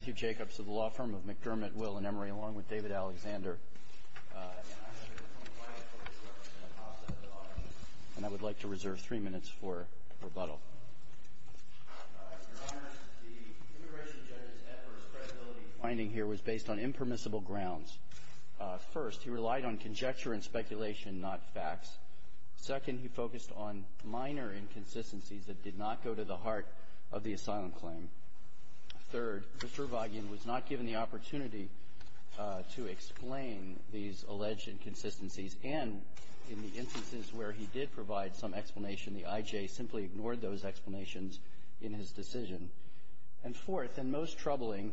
Matthew Jacobs of the law firm of McDermott, Will and Emery, along with David Alexander. And I have a different plan for this work than I possibly thought. And I would like to reserve three minutes for rebuttal. Your Honor, the immigration judge's adverse credibility finding here was based on impermissible grounds. First, he relied on conjecture and speculation, not facts. Second, he focused on minor inconsistencies that did not go to the heart of the asylum claim. Third, Mr. Avagyan was not given the opportunity to explain these alleged inconsistencies. And in the instances where he did provide some explanation, the I.J. simply ignored those explanations in his decision. And fourth, and most troubling,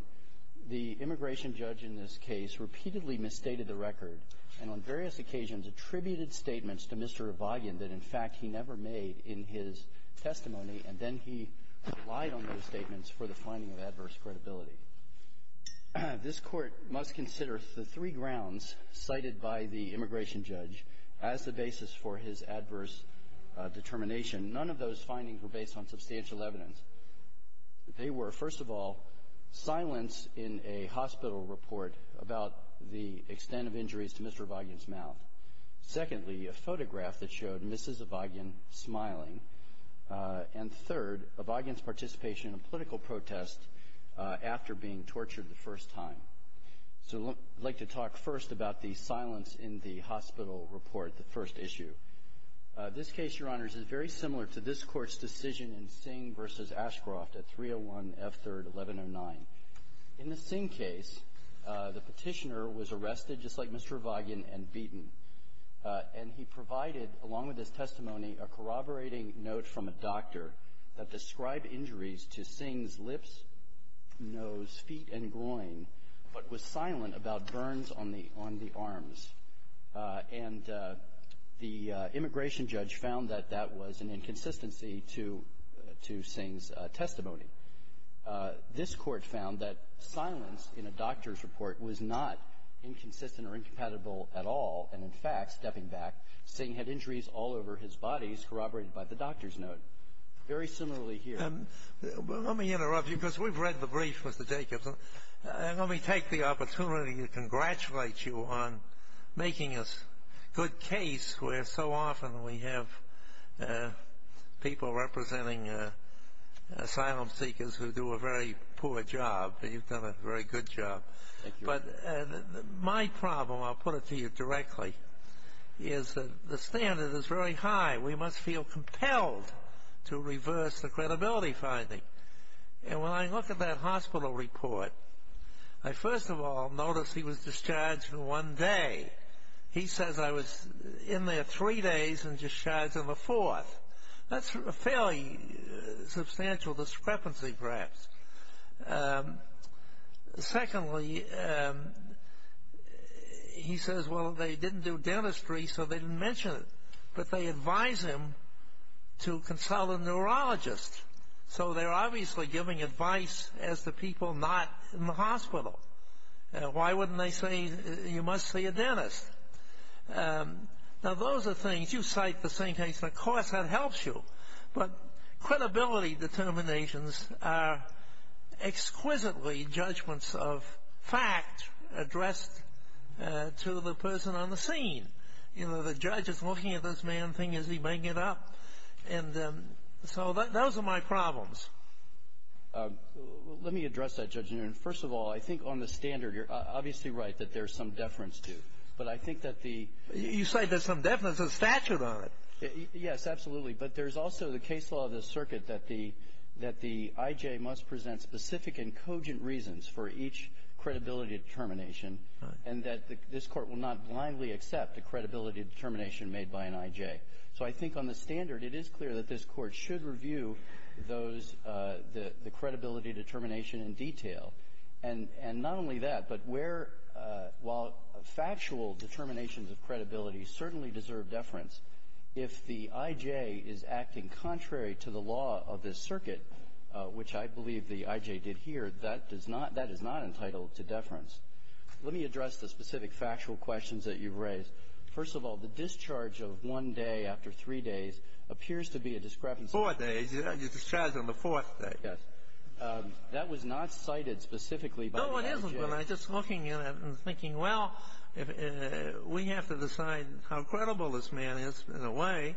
the immigration judge in this case repeatedly misstated the record and on various occasions attributed statements to Mr. Avagyan that, in fact, he never made in his testimony. And then he relied on those statements for the finding of adverse credibility. This Court must consider the three grounds cited by the immigration judge as the basis for his adverse determination. None of those findings were based on substantial evidence. They were, first of all, silence in a hospital report about the extent of injuries to Mr. Avagyan's mouth. Secondly, a photograph that showed Mrs. Avagyan smiling. And third, Avagyan's participation in a political protest after being tortured the first time. So I'd like to talk first about the silence in the hospital report, the first issue. This case, Your Honors, is very similar to this Court's decision in Singh v. Ashcroft at 301 F. 3rd, 1109. In the Singh case, the petitioner was arrested just like Mr. Avagyan and beaten. And he provided, along with his testimony, a corroborating note from a doctor that described injuries to Singh's lips, nose, feet, and groin, but was silent about burns on the arms. And the immigration judge found that that was an inconsistency to Singh's testimony. This Court found that silence in a doctor's report was not inconsistent or incompatible at all, and, in fact, stepping back, Singh had injuries all over his body corroborated by the doctor's note. Very similarly here. Let me interrupt you because we've read the brief, Mr. Jacobson. Let me take the opportunity to congratulate you on making a good case where so often we have people representing asylum seekers who do a very poor job, but you've done a very good job. Thank you. But my problem, I'll put it to you directly, is that the standard is very high. We must feel compelled to reverse the credibility finding. And when I look at that hospital report, I first of all notice he was discharged in one day. He says I was in there three days and discharged on the fourth. That's a fairly substantial discrepancy, perhaps. Secondly, he says, well, they didn't do dentistry, so they didn't mention it, but they advised him to consult a neurologist. So they're obviously giving advice as to people not in the hospital. Why wouldn't they say you must see a dentist? Now, those are things. You cite the same case, and of course that helps you. But credibility determinations are exquisitely judgments of fact addressed to the person on the scene. You know, the judge is looking at this man, thinking, is he making it up? And so those are my problems. Let me address that, Judge Newton. First of all, I think on the standard you're obviously right that there's some deference to. But I think that the... You say there's some deference of statute on it. Yes, absolutely. But there's also the case law of the circuit that the I.J. must present specific and cogent reasons for each credibility determination. Right. And that this Court will not blindly accept the credibility determination made by an I.J. So I think on the standard, it is clear that this Court should review those, the credibility determination in detail. And not only that, but where, while factual determinations of credibility certainly deserve deference, if the I.J. is acting contrary to the law of this circuit, which I believe the I.J. did here, that does not – that is not entitled to deference. Let me address the specific factual questions that you've raised. First of all, the discharge of one day after three days appears to be a discrepancy. Four days. You're discharged on the fourth day. Yes. That was not cited specifically by the I.J. No, it isn't, but I'm just looking at it and thinking, well, we have to decide how credible this man is in a way.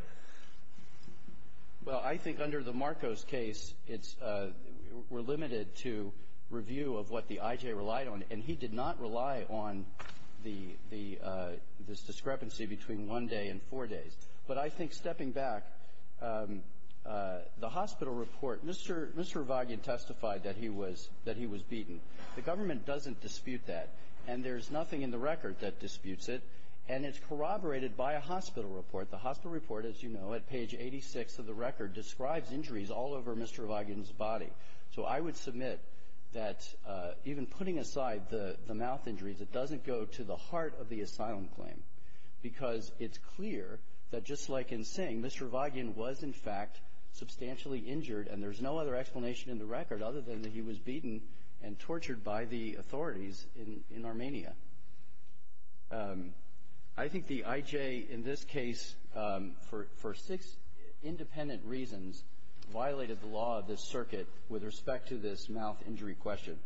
Well, I think under the Marcos case, it's – we're limited to review of what the I.J. relied on. And he did not rely on the – this discrepancy between one day and four days. But I think stepping back, the hospital report – Mr. Vagin testified that he was – that he was beaten. The government doesn't dispute that. And there's nothing in the record that disputes it. And it's corroborated by a hospital report. The hospital report, as you know, at page 86 of the record, describes injuries all over Mr. Vagin's body. So I would submit that even putting aside the mouth injuries, it doesn't go to the heart of the asylum claim, because it's clear that just like in Singh, Mr. Vagin was, in fact, substantially injured. And there's no other explanation in the record other than that he was beaten and tortured by the authorities in Armenia. I think the I.J. in this case, for six independent reasons, violated the law of this circuit with respect to this mouth injury question.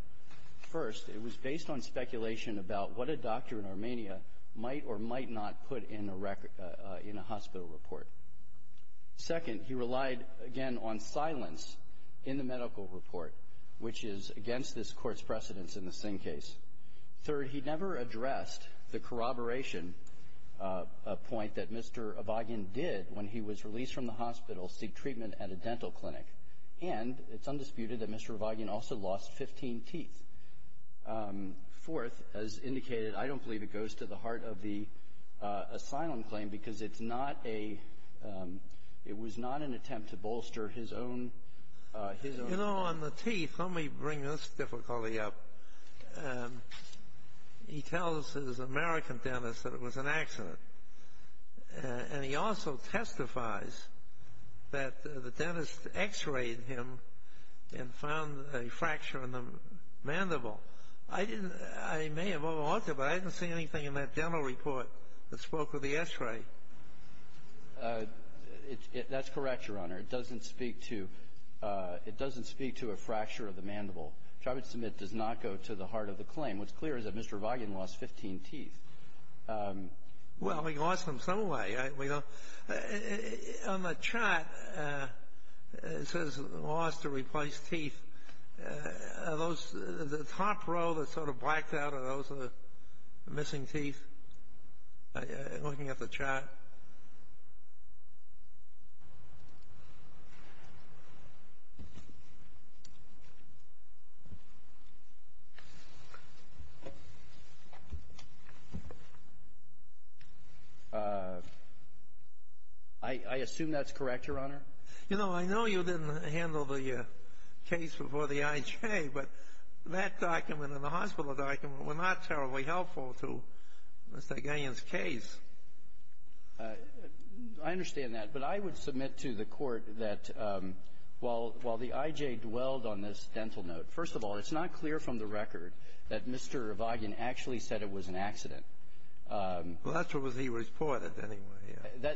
First, it was based on speculation about what a doctor in Armenia might or might not put in a hospital report. Second, he relied, again, on silence in the medical report, which is against this Court's precedence in the Singh case. Third, he never addressed the corroboration point that Mr. Vagin did when he was released from the hospital to seek treatment at a dental clinic. And it's undisputed that Mr. Vagin also lost 15 teeth. Fourth, as indicated, I don't believe it goes to the heart of the asylum claim because it's not a — it was not an attempt to bolster his own — His own — You know, on the teeth, let me bring this difficulty up. He tells his American dentist that it was an accident. And he also testifies that the dentist X-rayed him and found a fracture in the mandible. I didn't — I may have overarched it, but I didn't see anything in that dental report that spoke of the X-ray. That's correct, Your Honor. It doesn't speak to — it doesn't speak to a fracture of the mandible, which I would submit does not go to the heart of the claim. What's clear is that Mr. Vagin lost 15 teeth. Well, he lost them some way. We don't — on the chart, it says lost or replaced teeth. Are those — the top row that's sort of blacked out, are those the missing teeth? Looking at the chart. I assume that's correct, Your Honor. You know, I know you didn't handle the case before the IJ, but that document and the hospital document were not terribly helpful to Mr. Gagnon's case. I understand that. But I would submit to the Court that while the IJ dwelled on this dental note, first of all, it's not clear from the record that Mr. Vagin actually said it was an accident. Well, that's what he reported, anyway.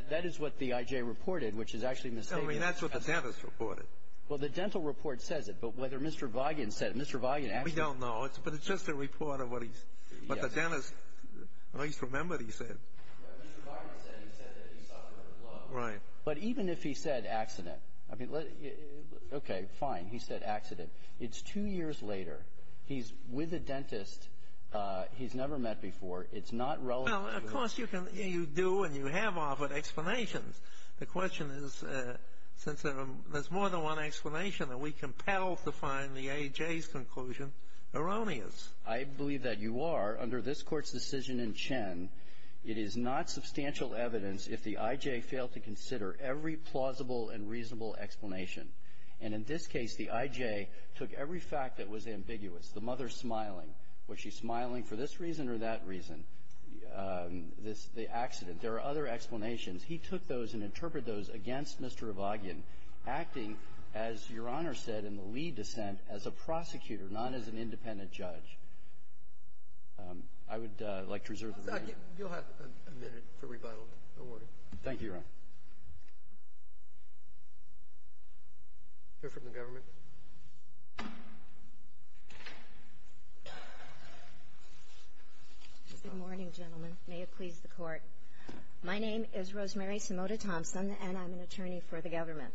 That is what the IJ reported, which is actually misstated. No, I mean, that's what the dentist reported. Well, the dental report says it, but whether Mr. Vagin said — Mr. Vagin actually — We don't know. But it's just a report of what he's — what the dentist at least remembered he said. Mr. Vagin said he said that he suffered a blow. Right. But even if he said accident — I mean, okay, fine, he said accident. It's two years later. He's with a dentist he's never met before. It's not relevant. Well, of course, you can — you do and you have offered explanations. The question is, since there's more than one explanation, are we compelled to find the IJ's conclusion erroneous? I believe that you are. Under this Court's decision in Chen, it is not substantial evidence if the IJ failed to consider every plausible and reasonable explanation. And in this case, the IJ took every fact that was ambiguous. The mother smiling. Was she smiling for this reason or that reason? The accident. There are other explanations. He took those and interpreted those against Mr. Vagin, acting, as Your Honor said in the Lee dissent, as a prosecutor, not as an independent judge. I would like to reserve the right. You'll have a minute for rebuttal. Thank you, Your Honor. Hear from the government. Good morning, gentlemen. May it please the Court. My name is Rosemary Simota Thompson, and I'm an attorney for the government.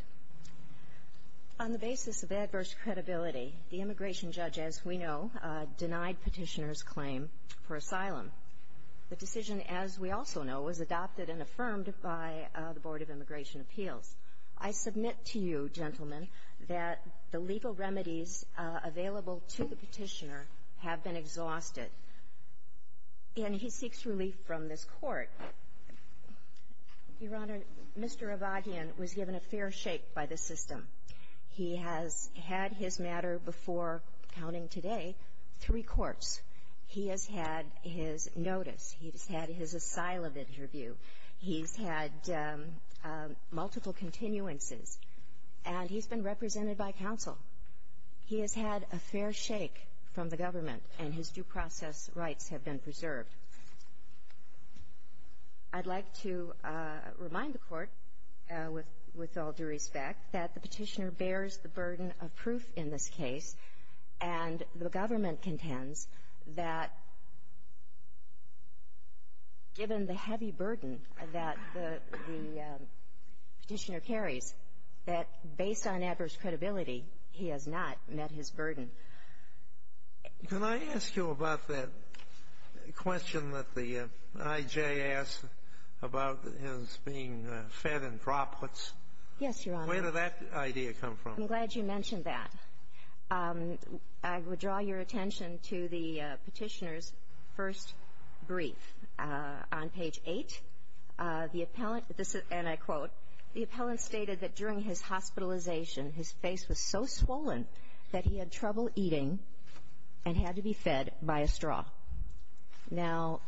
On the basis of adverse credibility, the immigration judge, as we know, denied Petitioner's claim for asylum. The decision, as we also know, was adopted and affirmed by the Board of Immigration Appeals. I submit to you, gentlemen, that the legal remedies available to the Petitioner have been exhausted. And he seeks relief from this Court. Your Honor, Mr. Vagin was given a fair shake by the system. He has had his matter before, counting today, three courts. He has had his notice. He has had his asylum interview. He's had multiple continuances. And he's been represented by counsel. He has had a fair shake from the government, and his due process rights have been preserved. I'd like to remind the Court, with all due respect, that the Petitioner bears the burden that, given the heavy burden that the Petitioner carries, that based on adverse credibility, he has not met his burden. Can I ask you about that question that the I.J. asked about his being fed in droplets? Yes, Your Honor. Where did that idea come from? I'm glad you mentioned that. I would draw your attention to the Petitioner's first brief. On page 8, the appellant, and I quote, the appellant stated that during his hospitalization, his face was so swollen that he had trouble eating and had to be fed by a straw. Now,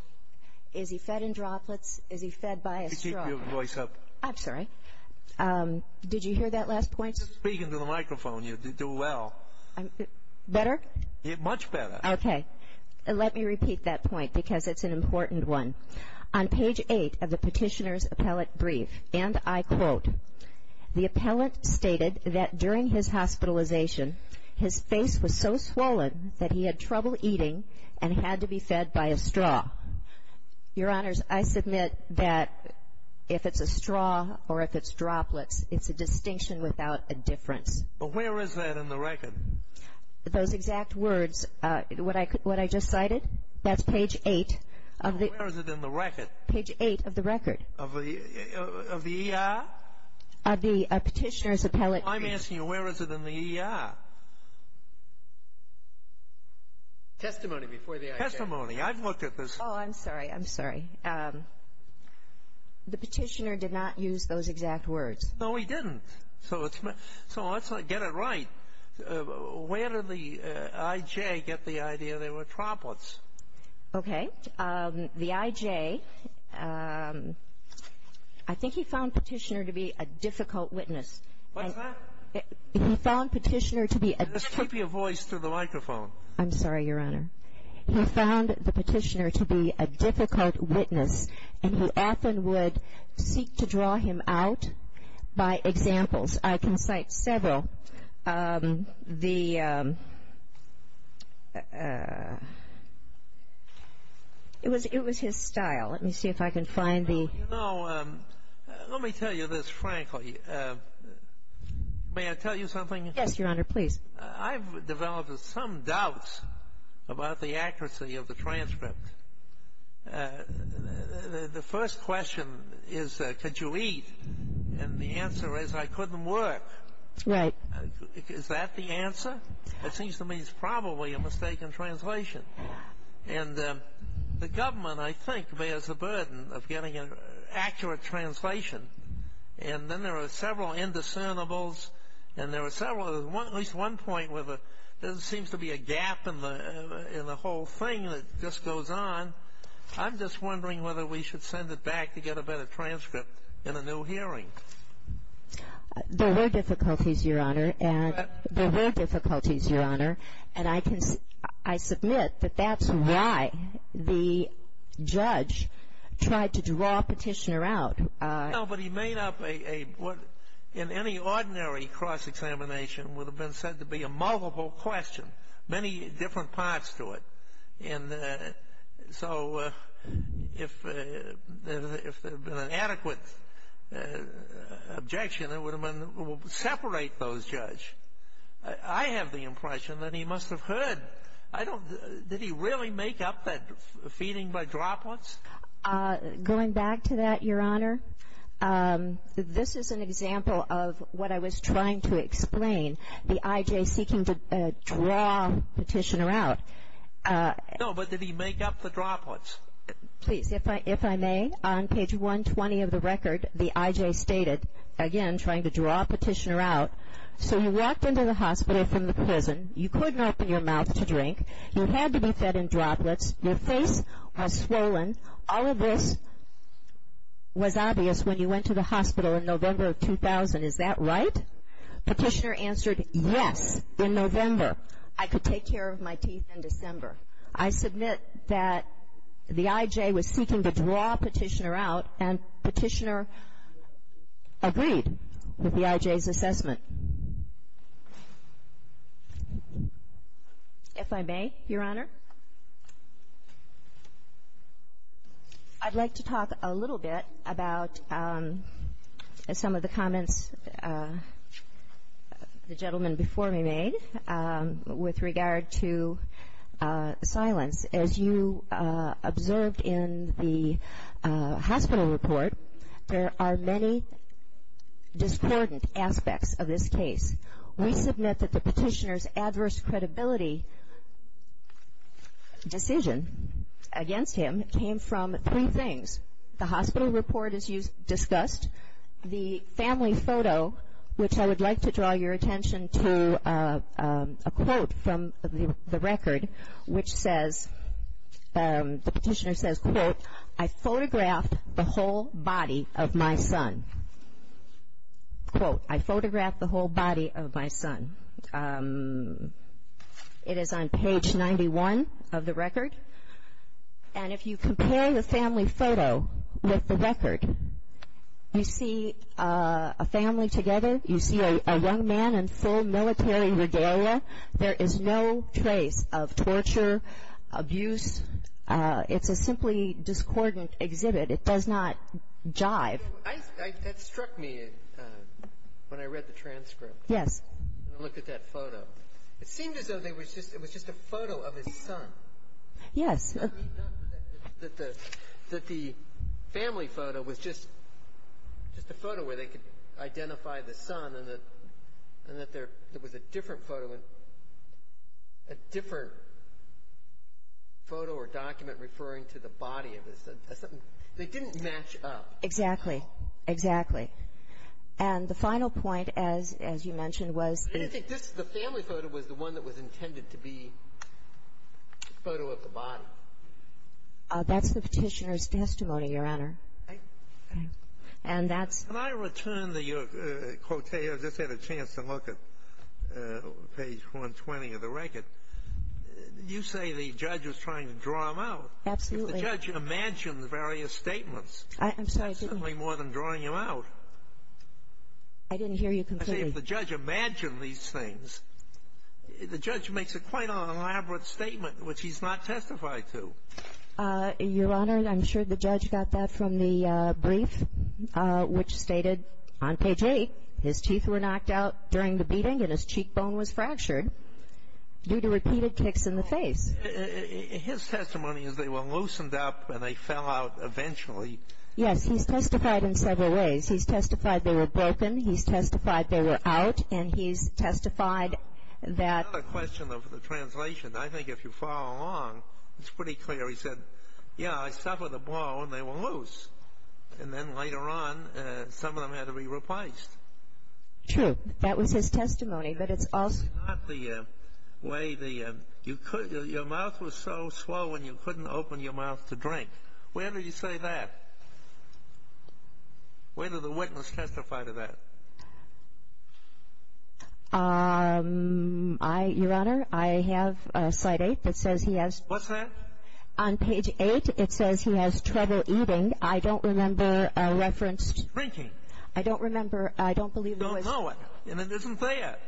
is he fed in droplets? Is he fed by a straw? Keep your voice up. I'm sorry. Did you hear that last point? Just speak into the microphone. You do well. Better? Much better. Okay. Let me repeat that point because it's an important one. On page 8 of the Petitioner's appellate brief, and I quote, the appellant stated that during his hospitalization, his face was so swollen that he had trouble eating and had to be fed by a straw. Your Honors, I submit that if it's a straw or if it's droplets, it's a distinction without a difference. But where is that in the record? Those exact words, what I just cited, that's page 8 of the ER. Where is it in the record? Page 8 of the record. Of the ER? Of the Petitioner's appellate brief. I'm asking you, where is it in the ER? Testimony before the IGF. Testimony. I've looked at this. Oh, I'm sorry. I'm sorry. The Petitioner did not use those exact words. No, he didn't. So let's get it right. Where did the IJ get the idea they were droplets? Okay. The IJ, I think he found Petitioner to be a difficult witness. What's that? He found Petitioner to be a difficult witness. Just keep your voice to the microphone. I'm sorry, Your Honor. He found the Petitioner to be a difficult witness, and who often would seek to draw him out by examples. I can cite several. It was his style. Let me see if I can find the ---- You know, let me tell you this frankly. May I tell you something? Yes, Your Honor, please. I've developed some doubts about the accuracy of the transcript. The first question is, could you eat? And the answer is, I couldn't work. Right. Is that the answer? It seems to me it's probably a mistaken translation. And the government, I think, bears the burden of getting an accurate translation. And then there are several indiscernibles, and there are several ---- at least one point where there seems to be a gap in the whole thing that just goes on. I'm just wondering whether we should send it back to get a better transcript in a new hearing. There were difficulties, Your Honor. There were difficulties, Your Honor. And I can ---- I submit that that's why the judge tried to draw Petitioner out. No, but he made up what in any ordinary cross-examination would have been said to be a multiple question, many different parts to it. And so if there had been an adequate objection, it would have been separate those judge. I have the impression that he must have heard. I don't ---- Did he really make up that feeding by droplets? Going back to that, Your Honor, this is an example of what I was trying to explain, the I.J. seeking to draw Petitioner out. No, but did he make up the droplets? Please, if I may, on page 120 of the record, the I.J. stated, again, trying to draw Petitioner out, so he walked into the hospital from the prison. You couldn't open your mouth to drink. You had to be fed in droplets. Your face was swollen. All of this was obvious when you went to the hospital in November of 2000. Is that right? Petitioner answered, yes, in November. I could take care of my teeth in December. I submit that the I.J. was seeking to draw Petitioner out, and Petitioner agreed with the I.J.'s assessment. If I may, Your Honor, I'd like to talk a little bit about some of the comments the gentleman before me made with regard to silence. As you observed in the hospital report, there are many discordant aspects of this case. We submit that the Petitioner's adverse credibility decision against him came from three things. The hospital report, as you discussed, the family photo, which I would like to draw your attention to a quote from the record, which says, the Petitioner says, quote, I photographed the whole body of my son. Quote, I photographed the whole body of my son. It is on page 91 of the record. And if you compare the family photo with the record, you see a family together. You see a young man in full military regalia. There is no trace of torture, abuse. It's a simply discordant exhibit. It does not jive. That struck me when I read the transcript. Yes. I looked at that photo. It seemed as though it was just a photo of his son. Yes. Not that the family photo was just a photo where they could identify the son and that there was a different photo, a different photo or document referring to the body of his son. They didn't match up. Exactly. Exactly. And the final point, as you mentioned, was the ---- The family photo was the one that was intended to be a photo of the body. That's the Petitioner's testimony, Your Honor. And that's ---- Can I return to your quote? I just had a chance to look at page 120 of the record. You say the judge was trying to draw him out. Absolutely. If the judge imagined the various statements, that's certainly more than drawing him out. I didn't hear you completely. If the judge imagined these things, the judge makes a quite an elaborate statement, which he's not testified to. Your Honor, I'm sure the judge got that from the brief, which stated on page 8, his teeth were knocked out during the beating and his cheekbone was fractured due to repeated kicks in the face. His testimony is they were loosened up and they fell out eventually. Yes. He's testified in several ways. He's testified they were broken. He's testified they were out. And he's testified that ---- It's not a question of the translation. I think if you follow along, it's pretty clear. He said, yeah, I suffered a blow and they were loose. And then later on, some of them had to be replaced. True. That was his testimony. But it's also ---- It's not the way the ---- Your mouth was so slow and you couldn't open your mouth to drink. Where do you say that? Where did the witness testify to that? I ---- Your Honor, I have slide 8 that says he has ---- What's that? On page 8, it says he has trouble eating. I don't remember referenced ---- Drinking. I don't remember. I don't believe it was ---- Don't know it. And it isn't there.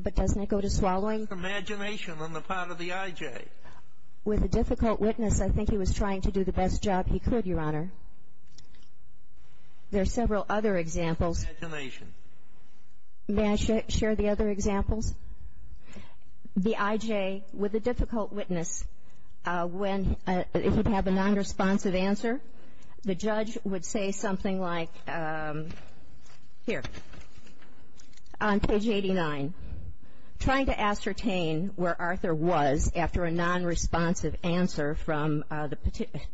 But doesn't it go to swallowing? Imagination on the part of the IJ. With a difficult witness, I think he was trying to do the best job he could, Your Honor. There are several other examples. Imagination. May I share the other examples? The IJ, with a difficult witness, when he would have a nonresponsive answer, the judge would say something like, here, on page 89, trying to ascertain where Arthur was after a nonresponsive answer from the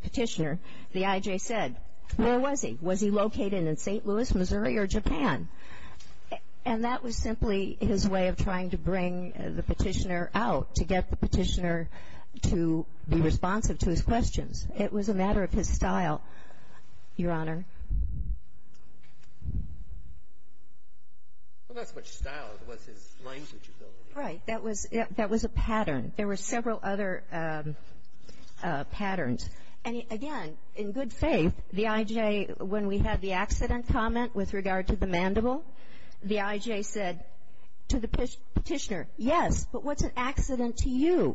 petitioner. The IJ said, where was he? Was he located in St. Louis, Missouri, or Japan? And that was simply his way of trying to bring the petitioner out, to get the petitioner to be responsive to his questions. It was a matter of his style, Your Honor. Well, that's not style. It was his language ability. Right. That was a pattern. There were several other patterns. And, again, in good faith, the IJ, when we had the accident comment with regard to the mandible, the IJ said to the petitioner, yes, but what's an accident to you?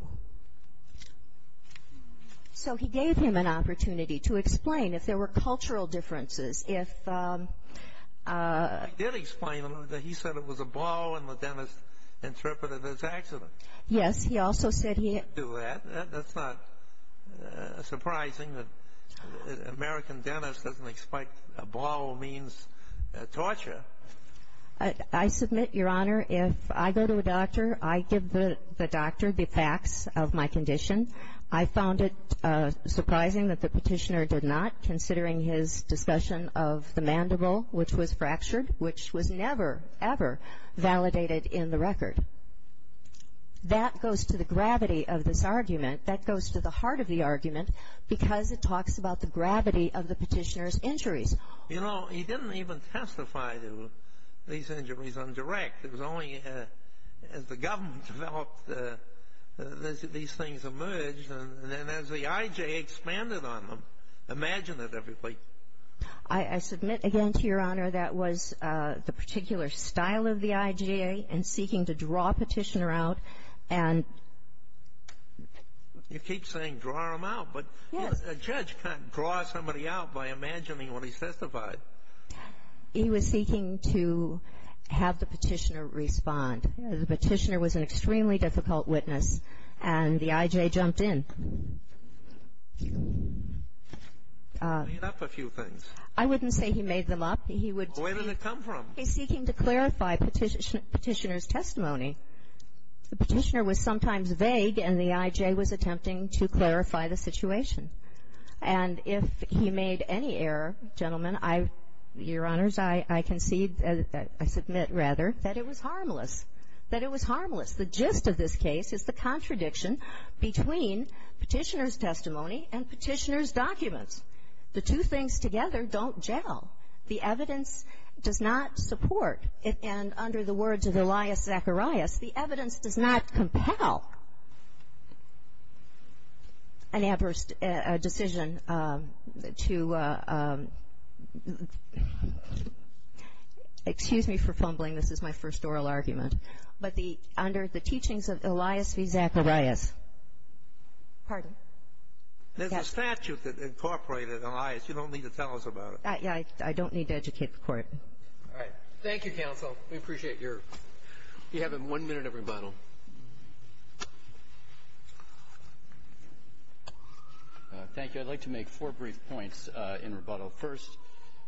So he gave him an opportunity to explain if there were cultural differences. If he did explain that he said it was a ball, and the dentist interpreted it as accident. Yes. He also said he didn't do that. That's not surprising that an American dentist doesn't expect a ball means torture. I submit, Your Honor, if I go to a doctor, I give the doctor the facts of my condition. I found it surprising that the petitioner did not, considering his discussion of the mandible, which was fractured, which was never, ever validated in the record. That goes to the gravity of this argument. That goes to the heart of the argument, because it talks about the gravity of the petitioner's injuries. You know, he didn't even testify to these injuries on direct. It was only as the government developed, these things emerged. And then as the IJ expanded on them, imagine it, everybody. I submit, again, to Your Honor, that was the particular style of the IJ in seeking to draw a petitioner out. And you keep saying draw him out, but a judge can't draw somebody out by imagining what he's testified. He was seeking to have the petitioner respond. The petitioner was an extremely difficult witness, and the IJ jumped in. He made up a few things. I wouldn't say he made them up. He would be seeking to clarify petitioner's testimony. The petitioner was sometimes vague, and the IJ was attempting to clarify the situation. And if he made any error, gentlemen, Your Honors, I concede, I submit, rather, that it was harmless. That it was harmless. The gist of this case is the contradiction between petitioner's testimony and petitioner's documents. The two things together don't gel. The evidence does not support. And under the words of Elias Zacharias, the evidence does not compel an adverse decision to — excuse me for fumbling. This is my first oral argument. But the — under the teachings of Elias v. Zacharias — pardon? There's a statute that incorporated Elias. You don't need to tell us about it. I don't need to educate the Court. All right. Thank you, counsel. We appreciate your — you have one minute of rebuttal. Thank you. I'd like to make four brief points in rebuttal. First,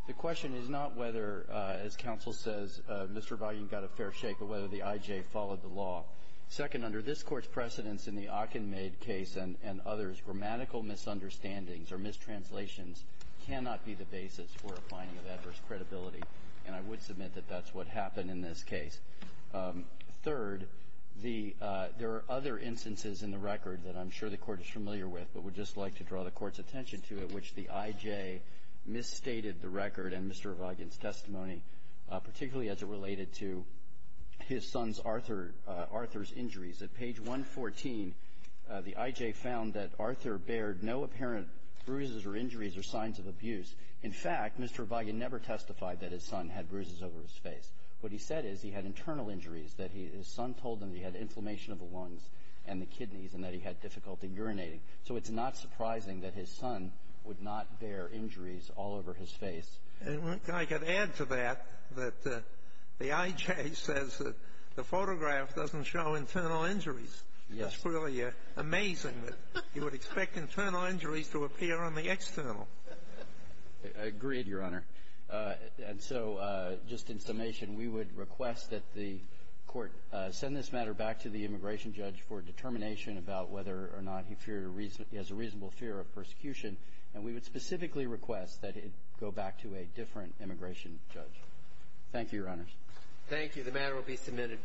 the question is not whether, as counsel says, Mr. Vaughan got a fair shake, but whether the IJ followed the law. Second, under this Court's precedence in the Ockenmaid case and others, grammatical misunderstandings or mistranslations cannot be the basis for a finding of adverse credibility. And I would submit that that's what happened in this case. Third, the — there are other instances in the record that I'm sure the Court is familiar with, but would just like to draw the Court's attention to, in which the IJ misstated the record and Mr. Vaughan's testimony, particularly as it related to his son's Arthur — Arthur's injuries. At page 114, the IJ found that Arthur bared no apparent bruises or injuries or signs of abuse. In fact, Mr. Vaughan never testified that his son had bruises over his face. What he said is he had internal injuries that he — his son told him he had inflammation of the lungs and the kidneys and that he had difficulty urinating. So it's not surprising that his son would not bear injuries all over his face. And I could add to that that the IJ says that the photograph doesn't show internal injuries. Yes. It's really amazing that you would expect internal injuries to appear on the external. Agreed, Your Honor. And so just in summation, we would request that the Court send this matter back to the immigration judge for determination about whether or not he feared a reasonable fear of persecution, and we would specifically request that it go back to a different immigration judge. Thank you, Your Honor. Thank you. The matter will be submitted.